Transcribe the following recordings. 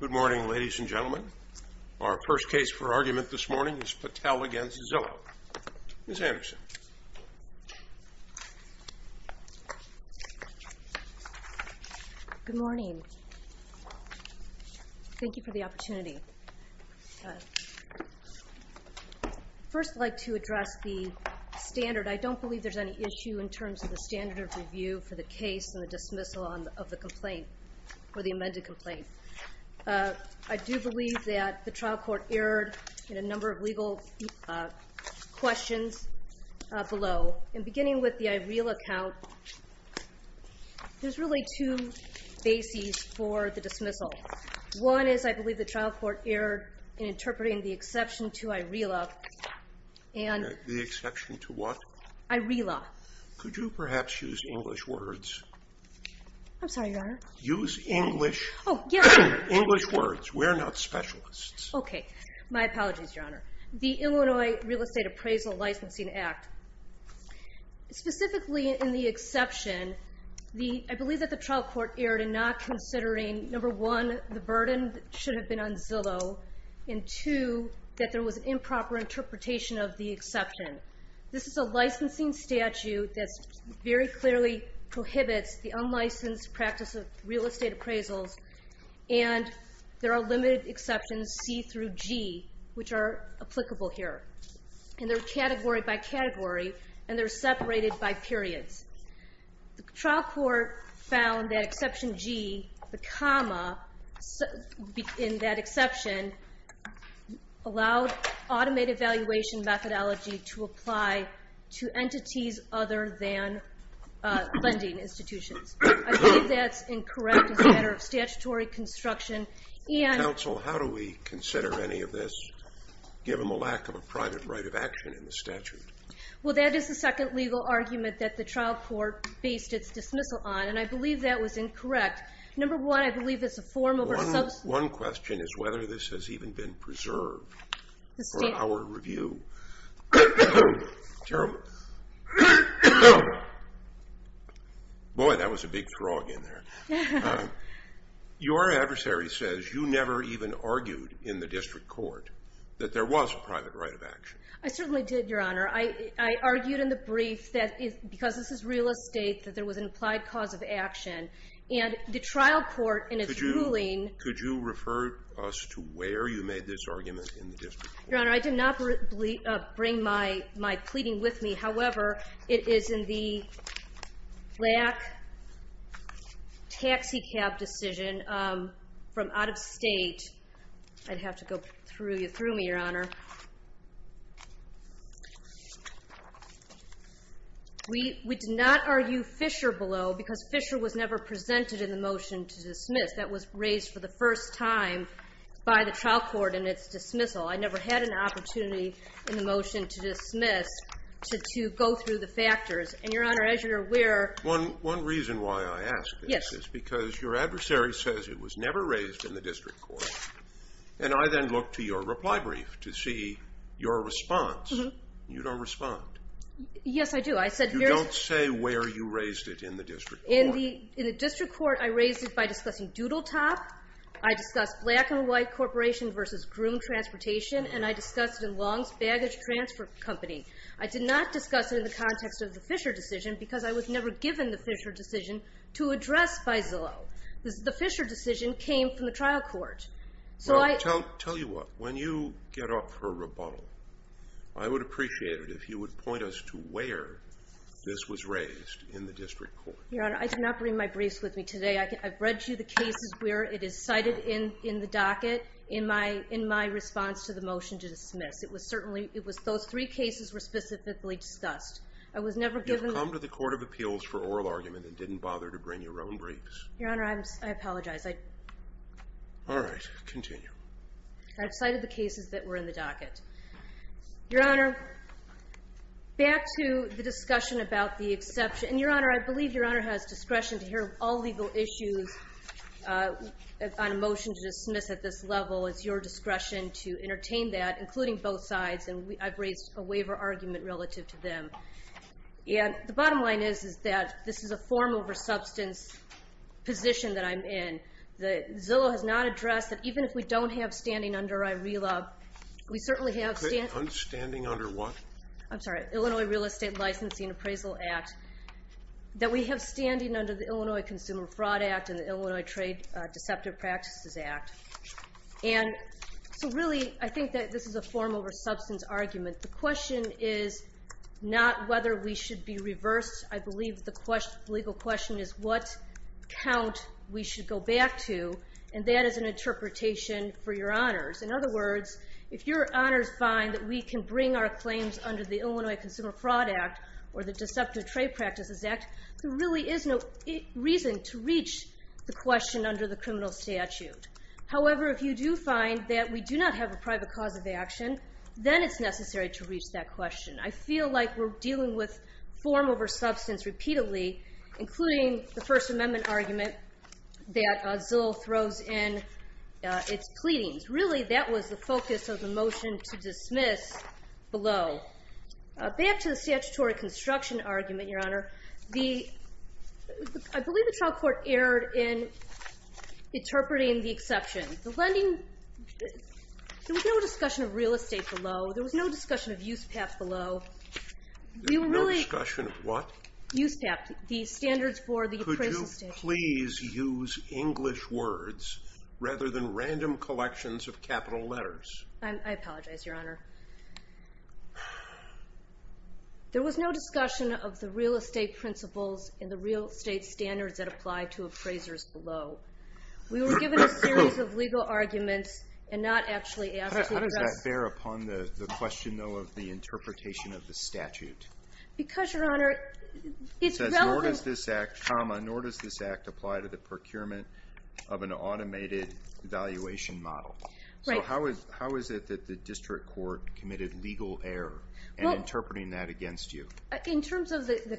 Good morning, ladies and gentlemen. Our first case for argument this morning is Patel v. Zillow. Ms. Anderson. Good morning. Thank you for the opportunity. I'd first like to address the standard. I don't believe there's any issue in terms of the standard of review for the case and the dismissal of the complaint, or the amended complaint. I do believe that the trial court erred in a number of legal questions below. And beginning with the IRELA count, there's really two bases for the dismissal. One is I believe the trial court erred in interpreting the exception to IRELA. The exception to what? IRELA. Could you perhaps use English words? I'm sorry, Your Honor. Use English? Oh, yes. English words. We're not specialists. Okay. My apologies, Your Honor. The Illinois Real Estate Appraisal Licensing Act. Specifically in the exception, I believe that the trial court erred in not considering, number one, the burden that should have been on Zillow, and two, that there was an improper interpretation of the exception. This is a licensing statute that very clearly prohibits the unlicensed practice of real estate appraisals, and there are limited exceptions, C through G, which are applicable here. And they're category by category, and they're separated by periods. The trial court found that exception G, the comma in that exception, allowed automated valuation methodology to apply to entities other than lending institutions. I believe that's incorrect as a matter of statutory construction. Counsel, how do we consider any of this, given the lack of a private right of action in the statute? Well, that is the second legal argument that the trial court based its dismissal on, and I believe that was incorrect. Number one, I believe it's a form of a substance. One question is whether this has even been preserved for our review. Boy, that was a big throng in there. Your adversary says you never even argued in the district court that there was a private right of action. I certainly did, Your Honor. I argued in the brief that because this is real estate that there was an implied cause of action. And the trial court in its ruling Could you refer us to where you made this argument in the district court? Your Honor, I did not bring my pleading with me. However, it is in the LAC taxicab decision from out of state. I'd have to go through you through me, Your Honor. We did not argue Fisher below because Fisher was never presented in the motion to dismiss. That was raised for the first time by the trial court in its dismissal. I never had an opportunity in the motion to dismiss to go through the factors. And, Your Honor, as you're aware One reason why I ask this is because your adversary says it was never raised in the district court. And I then look to your reply brief to see your response. You don't respond. Yes, I do. You don't say where you raised it in the district court. In the district court, I raised it by discussing Doodle Top. I discussed Black and White Corporation versus Groom Transportation. And I discussed it in Longs Baggage Transfer Company. I did not discuss it in the context of the Fisher decision Because I was never given the Fisher decision to address by Zillow. The Fisher decision came from the trial court. Tell you what, when you get off her rebuttal, I would appreciate it if you would point us to where this was raised in the district court. Your Honor, I did not bring my briefs with me today. I've read you the cases where it is cited in the docket in my response to the motion to dismiss. Those three cases were specifically discussed. You've come to the Court of Appeals for oral argument and didn't bother to bring your own briefs. Your Honor, I apologize. All right, continue. I've cited the cases that were in the docket. Your Honor, back to the discussion about the exception. Your Honor, I believe Your Honor has discretion to hear all legal issues on a motion to dismiss at this level. It's your discretion to entertain that, including both sides. And I've raised a waiver argument relative to them. The bottom line is that this is a form over substance position that I'm in. Zillow has not addressed that even if we don't have standing under IRELA, we certainly have standing under what? I'm sorry, Illinois Real Estate Licensing Appraisal Act. That we have standing under the Illinois Consumer Fraud Act and the Illinois Trade Deceptive Practices Act. And so really, I think that this is a form over substance argument. The question is not whether we should be reversed. I believe the legal question is what count we should go back to. And that is an interpretation for Your Honors. In other words, if Your Honors find that we can bring our claims under the Illinois Consumer Fraud Act or the Deceptive Trade Practices Act, there really is no reason to reach the question under the criminal statute. However, if you do find that we do not have a private cause of action, then it's necessary to reach that question. I feel like we're dealing with form over substance repeatedly, including the First Amendment argument that Zillow throws in its pleadings. Really, that was the focus of the motion to dismiss below. I believe the trial court erred in interpreting the exception. There was no discussion of real estate below. There was no discussion of USPAP below. There was no discussion of what? USPAP, the standards for the appraisal statute. Could you please use English words rather than random collections of capital letters? I apologize, Your Honor. There was no discussion of the real estate principles and the real estate standards that apply to appraisers below. We were given a series of legal arguments and not actually asked to address them. How does that bear upon the question, though, of the interpretation of the statute? Because, Your Honor, it's relevant. It says, nor does this act apply to the procurement of an automated valuation model. Right. How is it that the district court committed legal error in interpreting that against you? In terms of the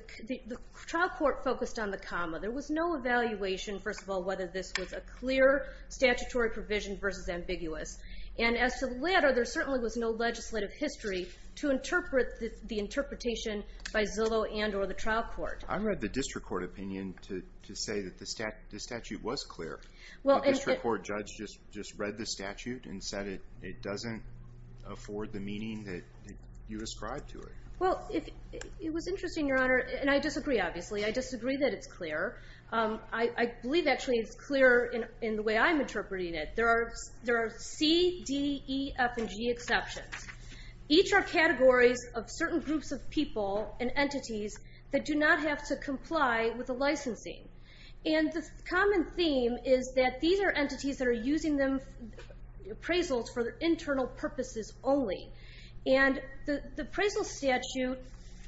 trial court focused on the comma. There was no evaluation, first of all, whether this was a clear statutory provision versus ambiguous. And as to the latter, there certainly was no legislative history to interpret the interpretation by Zillow and or the trial court. I read the district court opinion to say that the statute was clear. The district court judge just read the statute and said it doesn't afford the meaning that you ascribe to it. Well, it was interesting, Your Honor, and I disagree, obviously. I disagree that it's clear. I believe, actually, it's clear in the way I'm interpreting it. There are C, D, E, F, and G exceptions. Each are categories of certain groups of people and entities that do not have to comply with the licensing. And the common theme is that these are entities that are using appraisals for internal purposes only. And the appraisal statute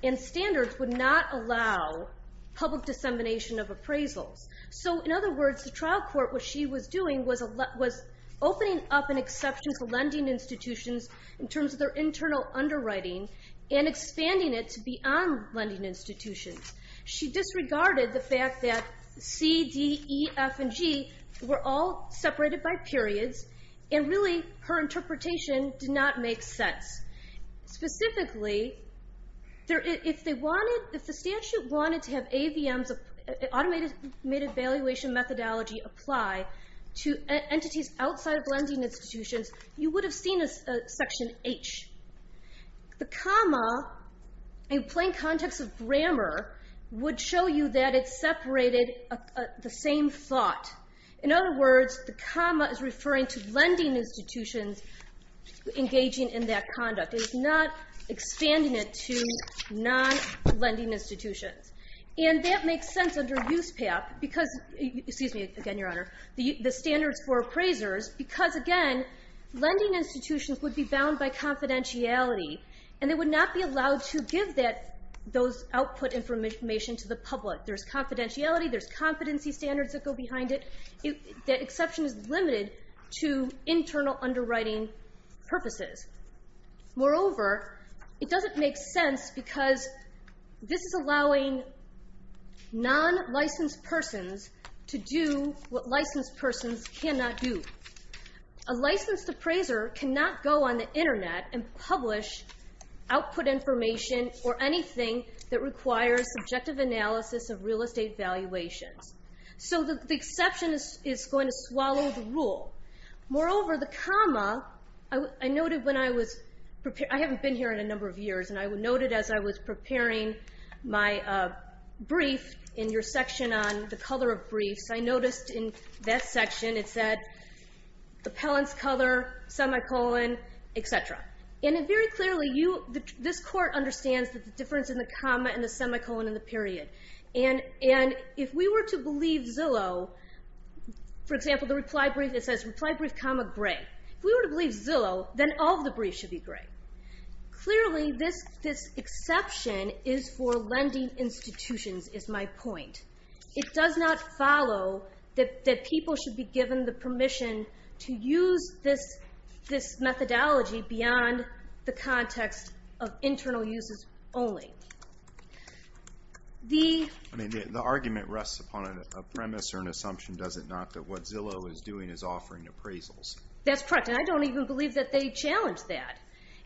and standards would not allow public dissemination of appraisals. So, in other words, the trial court, what she was doing, was opening up an exception to lending institutions in terms of their internal underwriting and expanding it to beyond lending institutions. She disregarded the fact that C, D, E, F, and G were all separated by periods. And really, her interpretation did not make sense. Specifically, if the statute wanted to have AVMs, automated valuation methodology, apply to entities outside of lending institutions, you would have seen a section H. The comma, in plain context of grammar, would show you that it separated the same thought. In other words, the comma is referring to lending institutions engaging in that conduct. It's not expanding it to non-lending institutions. And that makes sense under USPAP because, excuse me again, Your Honor, the standards for appraisers, because again, lending institutions would be bound by confidentiality, and they would not be allowed to give those output information to the public. There's confidentiality, there's competency standards that go behind it. The exception is limited to internal underwriting purposes. Moreover, it doesn't make sense because this is allowing non-licensed persons to do what licensed persons cannot do. A licensed appraiser cannot go on the Internet and publish output information or anything that requires subjective analysis of real estate valuations. Moreover, the comma, I noted when I was preparing, I haven't been here in a number of years, and I noted as I was preparing my brief in your section on the color of briefs, I noticed in that section it said, appellant's color, semicolon, etc. And very clearly, this Court understands the difference in the comma and the semicolon in the period. And if we were to believe Zillow, for example, the reply brief, it says reply brief comma gray. If we were to believe Zillow, then all of the briefs should be gray. Clearly, this exception is for lending institutions, is my point. It does not follow that people should be given the permission to use this methodology beyond the context of internal uses only. The argument rests upon a premise or an assumption, does it not, that what Zillow is doing is offering appraisals. That's correct, and I don't even believe that they challenge that.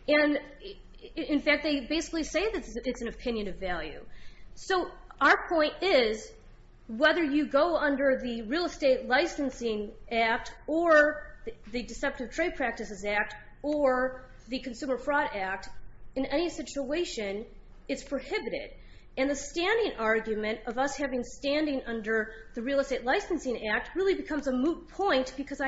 In fact, they basically say that it's an opinion of value. So our point is, whether you go under the Real Estate Licensing Act or the Deceptive Trade Practices Act or the Consumer Fraud Act, in any situation, it's prohibited. And the standing argument of us having standing under the Real Estate Licensing Act really becomes a moot point because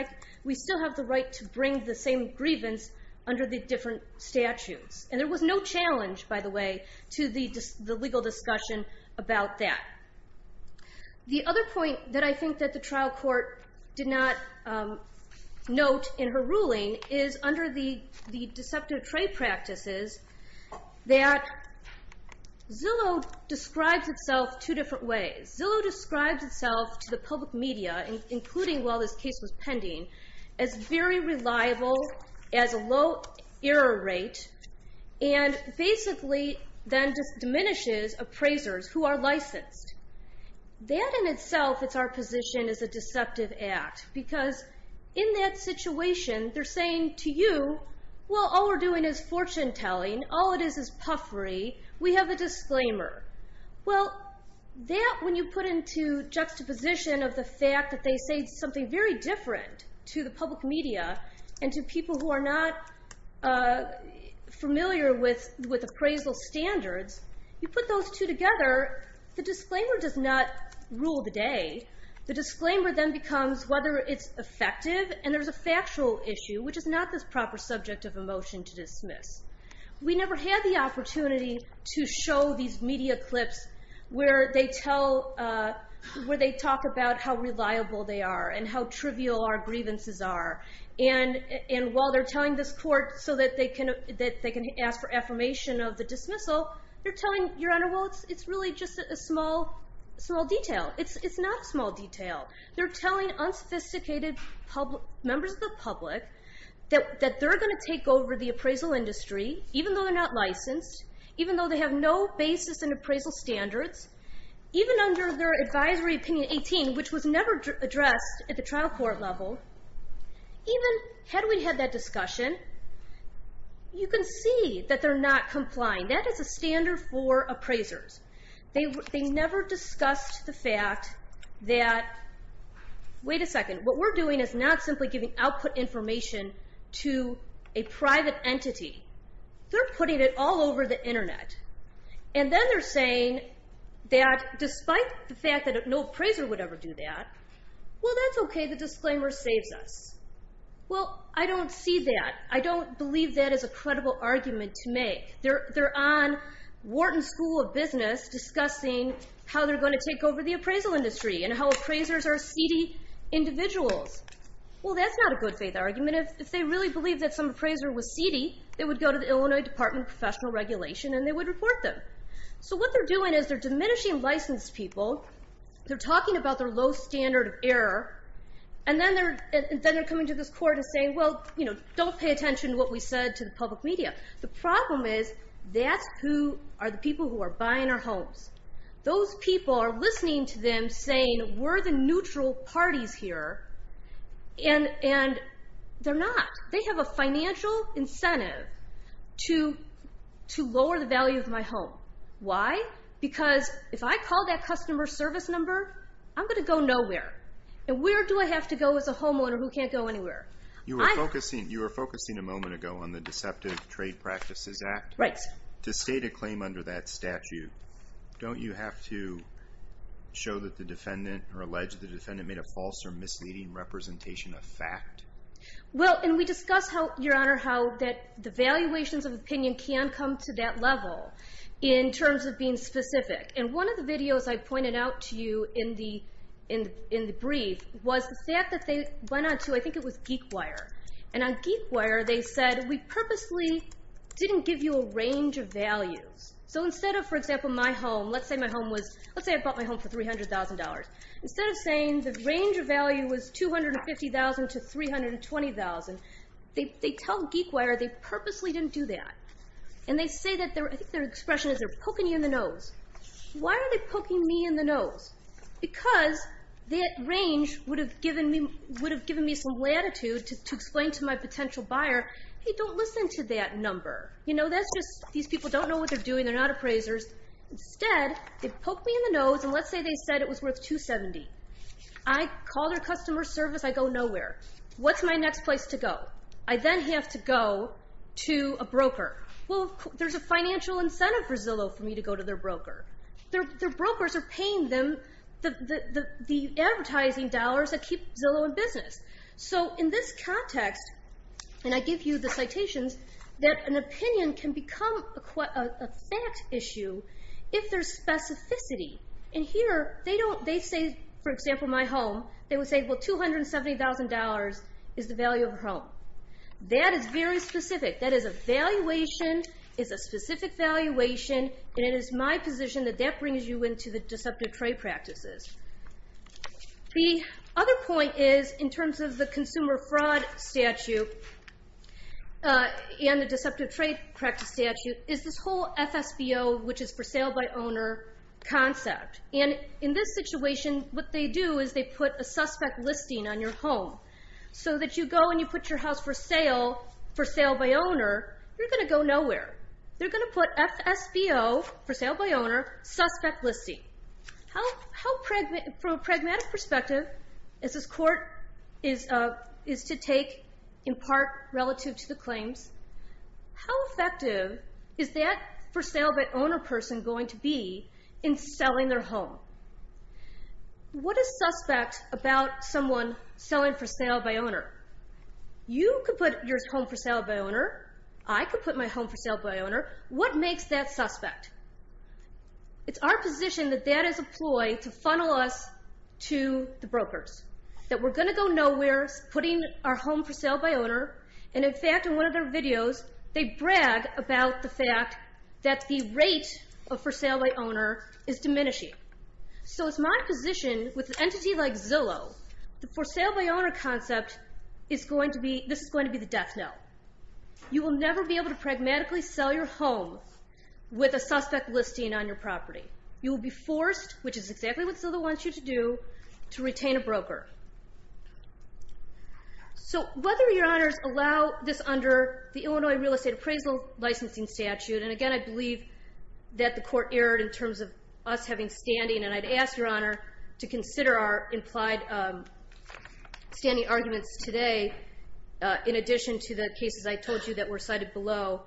we still have the right to bring the same grievance under the different statutes. And there was no challenge, by the way, to the legal discussion about that. The other point that I think that the trial court did not note in her ruling is under the Deceptive Trade Practices that Zillow describes itself two different ways. Zillow describes itself to the public media, including while this case was pending, as very reliable, has a low error rate, and basically then diminishes appraisers who are licensed. That in itself is our position as a deceptive act because in that situation, they're saying to you, well, all we're doing is fortune telling. All it is is puffery. We have a disclaimer. Well, that when you put into juxtaposition of the fact that they say something very different to the public media and to people who are not familiar with appraisal standards, you put those two together, the disclaimer does not rule the day. The disclaimer then becomes whether it's effective, and there's a factual issue, which is not the proper subject of a motion to dismiss. We never had the opportunity to show these media clips where they talk about how reliable they are and how trivial our grievances are. And while they're telling this court so that they can ask for affirmation of the dismissal, you're telling your honor, well, it's really just a small detail. It's not a small detail. They're telling unsophisticated members of the public that they're going to take over the appraisal industry, even though they're not licensed, even though they have no basis in appraisal standards, even under their advisory opinion 18, which was never addressed at the trial court level. Even had we had that discussion, you can see that they're not complying. That is a standard for appraisers. They never discussed the fact that, wait a second, what we're doing is not simply giving output information to a private entity. They're putting it all over the Internet. And then they're saying that despite the fact that no appraiser would ever do that, well, that's okay, the disclaimer saves us. Well, I don't see that. I don't believe that is a credible argument to make. They're on Wharton School of Business discussing how they're going to take over the appraisal industry and how appraisers are seedy individuals. Well, that's not a good faith argument. If they really believe that some appraiser was seedy, they would go to the Illinois Department of Professional Regulation and they would report them. So what they're doing is they're diminishing licensed people, they're talking about their low standard of error, and then they're coming to this court and saying, well, don't pay attention to what we said to the public media. The problem is that's who are the people who are buying our homes. Those people are listening to them saying we're the neutral parties here, and they're not. They have a financial incentive to lower the value of my home. Why? Because if I call that customer service number, I'm going to go nowhere. And where do I have to go as a homeowner who can't go anywhere? You were focusing a moment ago on the Deceptive Trade Practices Act. Right. To state a claim under that statute, don't you have to show that the defendant or allege the defendant made a false or misleading representation of fact? Well, and we discussed how, Your Honor, how the valuations of opinion can come to that level in terms of being specific. And one of the videos I pointed out to you in the brief was the fact that they went on to, I think it was GeekWire. And on GeekWire, they said we purposely didn't give you a range of values. So instead of, for example, my home, let's say my home was, let's say I bought my home for $300,000. Instead of saying the range of value was $250,000 to $320,000, they tell GeekWire they purposely didn't do that. And they say that, I think their expression is they're poking you in the nose. Why are they poking me in the nose? Because that range would have given me some latitude to explain to my potential buyer, hey, don't listen to that number. You know, that's just, these people don't know what they're doing. They're not appraisers. Instead, they poke me in the nose, and let's say they said it was worth $270,000. I call their customer service. I go nowhere. What's my next place to go? I then have to go to a broker. Well, there's a financial incentive for Zillow for me to go to their broker. Their brokers are paying them the advertising dollars that keep Zillow in business. So in this context, and I give you the citations, that an opinion can become a fact issue if there's specificity. And here, they say, for example, my home. They would say, well, $270,000 is the value of a home. That is very specific. That is a valuation. It's a specific valuation. And it is my position that that brings you into the deceptive trade practices. The other point is, in terms of the consumer fraud statute and the deceptive trade practice statute, is this whole FSBO, which is for sale by owner, concept. And in this situation, what they do is they put a suspect listing on your home so that you go and you put your house for sale, for sale by owner, you're going to go nowhere. They're going to put FSBO, for sale by owner, suspect listing. From a pragmatic perspective, as this court is to take in part relative to the claims, how effective is that for sale by owner person going to be in selling their home? What is suspect about someone selling for sale by owner? I could put my home for sale by owner. What makes that suspect? It's our position that that is a ploy to funnel us to the brokers, that we're going to go nowhere putting our home for sale by owner. And, in fact, in one of their videos, they brag about the fact that the rate of for sale by owner is diminishing. So it's my position, with an entity like Zillow, the for sale by owner concept is going to be, this is going to be the death note. You will never be able to pragmatically sell your home with a suspect listing on your property. You will be forced, which is exactly what Zillow wants you to do, to retain a broker. So whether your honors allow this under the Illinois Real Estate Appraisal Licensing Statute, and, again, I believe that the court erred in terms of us having standing, and I'd ask your honor to consider our implied standing arguments today in addition to the cases I told you that were cited below.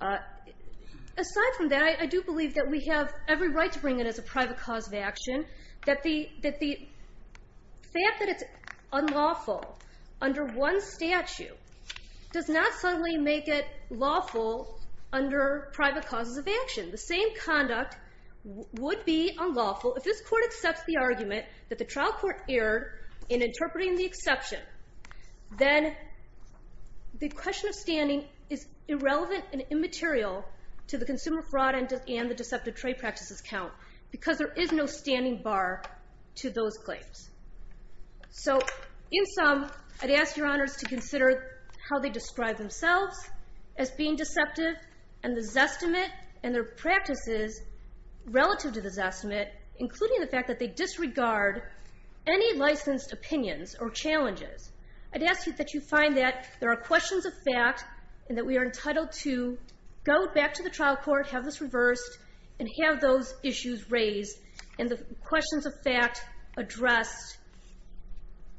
Aside from that, I do believe that we have every right to bring it as a private cause of action, that the fact that it's unlawful under one statute does not suddenly make it lawful under private causes of action. The same conduct would be unlawful if this court accepts the argument that the trial court erred in interpreting the exception. Then the question of standing is irrelevant and immaterial to the consumer fraud and the deceptive trade practices count because there is no standing bar to those claims. So in sum, I'd ask your honors to consider how they describe themselves as being deceptive and this estimate and their practices relative to this estimate, including the fact that they disregard any licensed opinions or challenges. I'd ask that you find that there are questions of fact and that we are entitled to go back to the trial court, have this reversed, and have those issues raised and the questions of fact addressed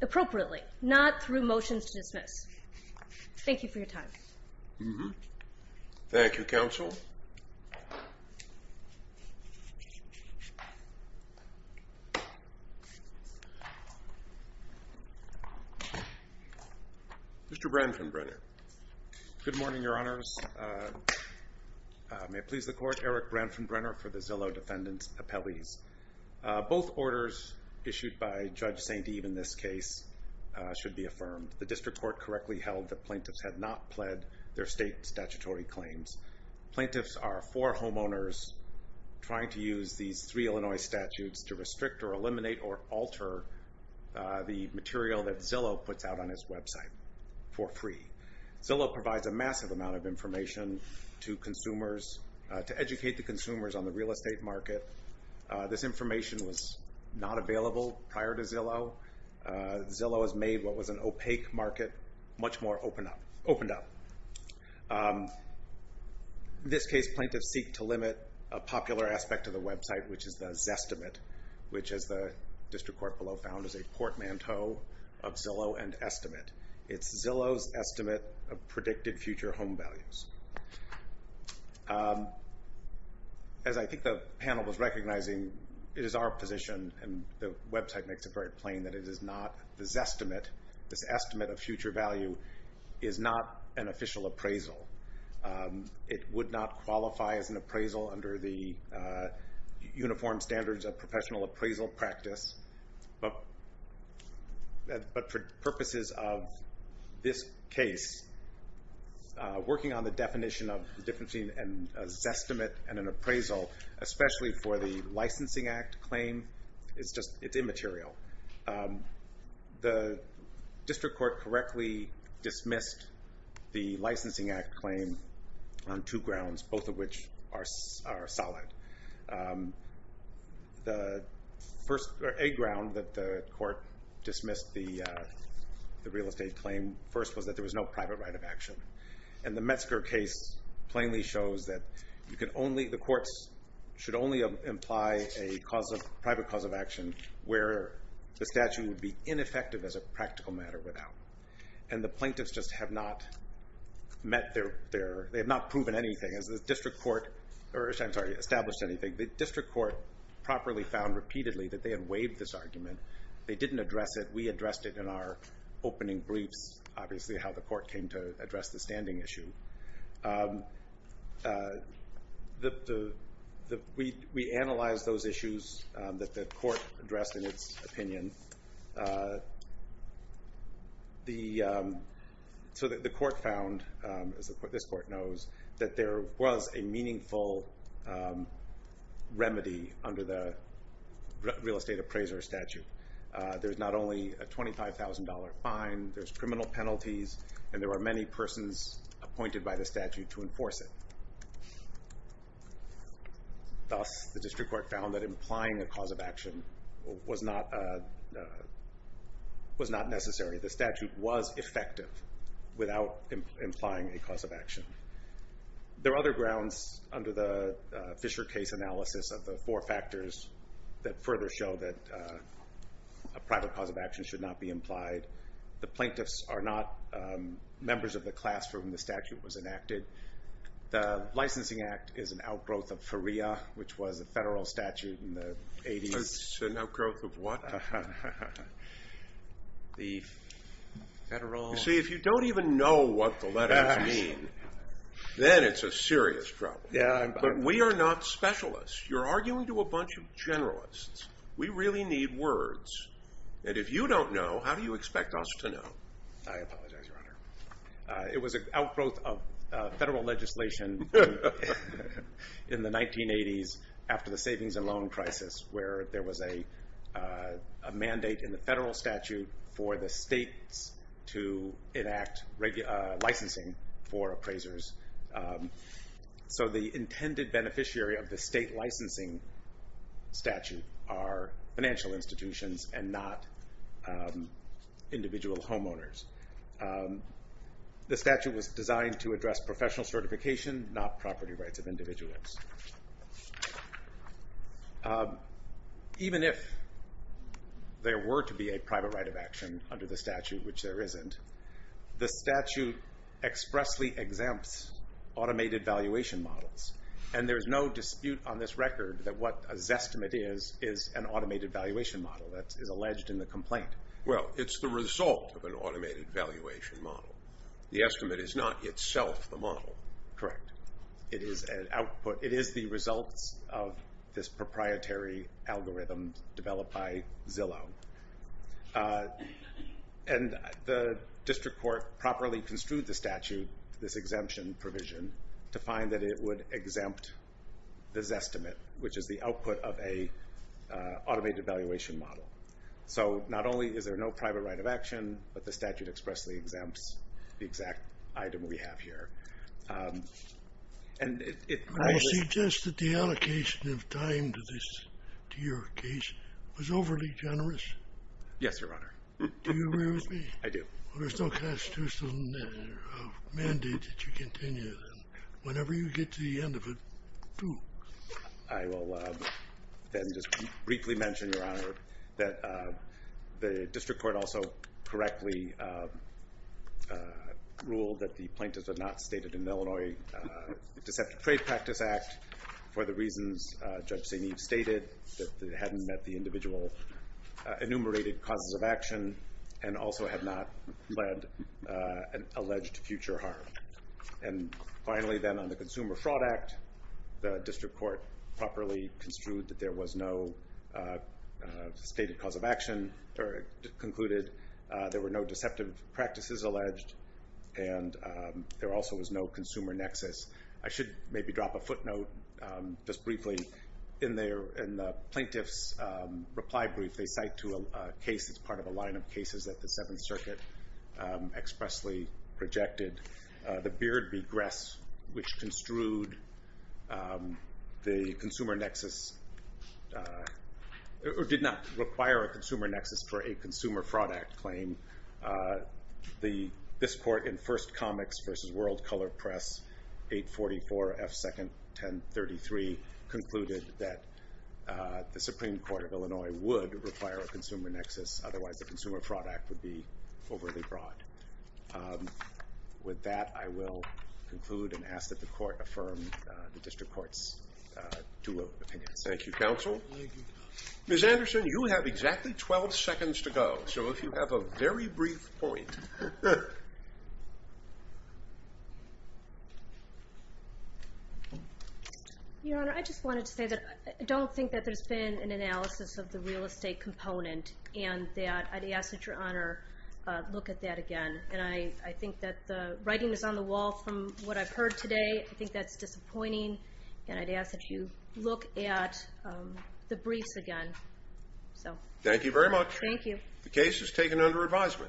appropriately, not through motions to dismiss. Thank you for your time. Thank you, counsel. Mr. Branfenbrenner. Good morning, your honors. May it please the court, Eric Branfenbrenner for the Zillow Defendant's Appellees. Both orders issued by Judge St. Eve in this case should be affirmed. The district court correctly held that plaintiffs had not pled their state statutory claims. Plaintiffs are for homeowners trying to use these three Illinois statutes to restrict or eliminate or alter the material that Zillow puts out on its website for free. Zillow provides a massive amount of information to consumers to educate the consumers on the real estate market. This information was not available prior to Zillow. Zillow has made what was an opaque market much more opened up. In this case, plaintiffs seek to limit a popular aspect of the website, which is the Zestimate, which, as the district court below found, is a portmanteau of Zillow and Estimate. It's Zillow's estimate of predicted future home values. As I think the panel was recognizing, it is our position, and the website makes it very plain, that it is not the Zestimate. This estimate of future value is not an official appraisal. It would not qualify as an appraisal under the uniform standards of professional appraisal practice. But for purposes of this case, working on the definition of a Zestimate and an appraisal, especially for the Licensing Act claim, it's immaterial. The district court correctly dismissed the Licensing Act claim on two grounds, both of which are solid. A ground that the court dismissed the real estate claim first was that there was no private right of action. And the Metzger case plainly shows that the courts should only imply a private cause of action where the statute would be ineffective as a practical matter without. And the plaintiffs just have not met their—they have not proven anything. As the district court—I'm sorry, established anything. The district court properly found repeatedly that they had waived this argument. They didn't address it. We addressed it in our opening briefs, which is obviously how the court came to address the standing issue. We analyzed those issues that the court addressed in its opinion. So the court found, as this court knows, that there was a meaningful remedy under the real estate appraiser statute. There's not only a $25,000 fine, there's criminal penalties, and there are many persons appointed by the statute to enforce it. Thus, the district court found that implying a cause of action was not necessary. The statute was effective without implying a cause of action. There are other grounds under the Fisher case analysis of the four factors that further show that a private cause of action should not be implied. The plaintiffs are not members of the class for whom the statute was enacted. The Licensing Act is an outgrowth of FERIA, which was a federal statute in the 80s. It's an outgrowth of what? See, if you don't even know what the letters mean, then it's a serious trouble. But we are not specialists. You're arguing to a bunch of generalists. We really need words, and if you don't know, how do you expect us to know? I apologize, Your Honor. It was an outgrowth of federal legislation in the 1980s after the savings and loan crisis, where there was a mandate in the federal statute for the states to enact licensing for appraisers. So the intended beneficiary of the state licensing statute are financial institutions and not individual homeowners. The statute was designed to address professional certification, not property rights of individuals. Even if there were to be a private right of action under the statute, which there isn't, the statute expressly exempts automated valuation models, and there is no dispute on this record that what a Zestimate is is an automated valuation model that is alleged in the complaint. Well, it's the result of an automated valuation model. The estimate is not itself the model. Correct. It is the results of this proprietary algorithm developed by Zillow. And the district court properly construed the statute, this exemption provision, to find that it would exempt the Zestimate, which is the output of an automated valuation model. So not only is there no private right of action, but the statute expressly exempts the exact item we have here. I would suggest that the allocation of time to your case was overly generous. Yes, Your Honor. Do you agree with me? I do. There's no constitutional mandate that you continue. Whenever you get to the end of it, do. I will then just briefly mention, Your Honor, that the district court also correctly ruled that the plaintiffs had not stated in the Illinois Deceptive Trade Practice Act for the reasons Judge St. Eve stated, that they hadn't met the individual enumerated causes of action and also had not led an alleged future harm. And finally, then, on the Consumer Fraud Act, the district court properly construed that there was no stated cause of action, or concluded there were no deceptive practices alleged, and there also was no consumer nexus. I should maybe drop a footnote just briefly. In the plaintiff's reply brief, they cite to a case that's part of a line of cases that the Seventh Circuit expressly projected the Beard v. Gress, which construed the consumer nexus, or did not require a consumer nexus for a Consumer Fraud Act claim. This court in First Comics v. World Color Press, 844 F. 2nd, 1033, concluded that the Supreme Court of Illinois would require a consumer nexus, otherwise the Consumer Fraud Act would be overly broad. With that, I will conclude and ask that the court affirm the district court's two opinions. Thank you, counsel. Ms. Anderson, you have exactly 12 seconds to go, so if you have a very brief point. Your Honor, I just wanted to say that I don't think that there's been an analysis of the real estate component, and I'd ask that Your Honor look at that again. And I think that the writing is on the wall from what I've heard today. I think that's disappointing, and I'd ask that you look at the briefs again. Thank you very much. Thank you. The case is taken under advisement.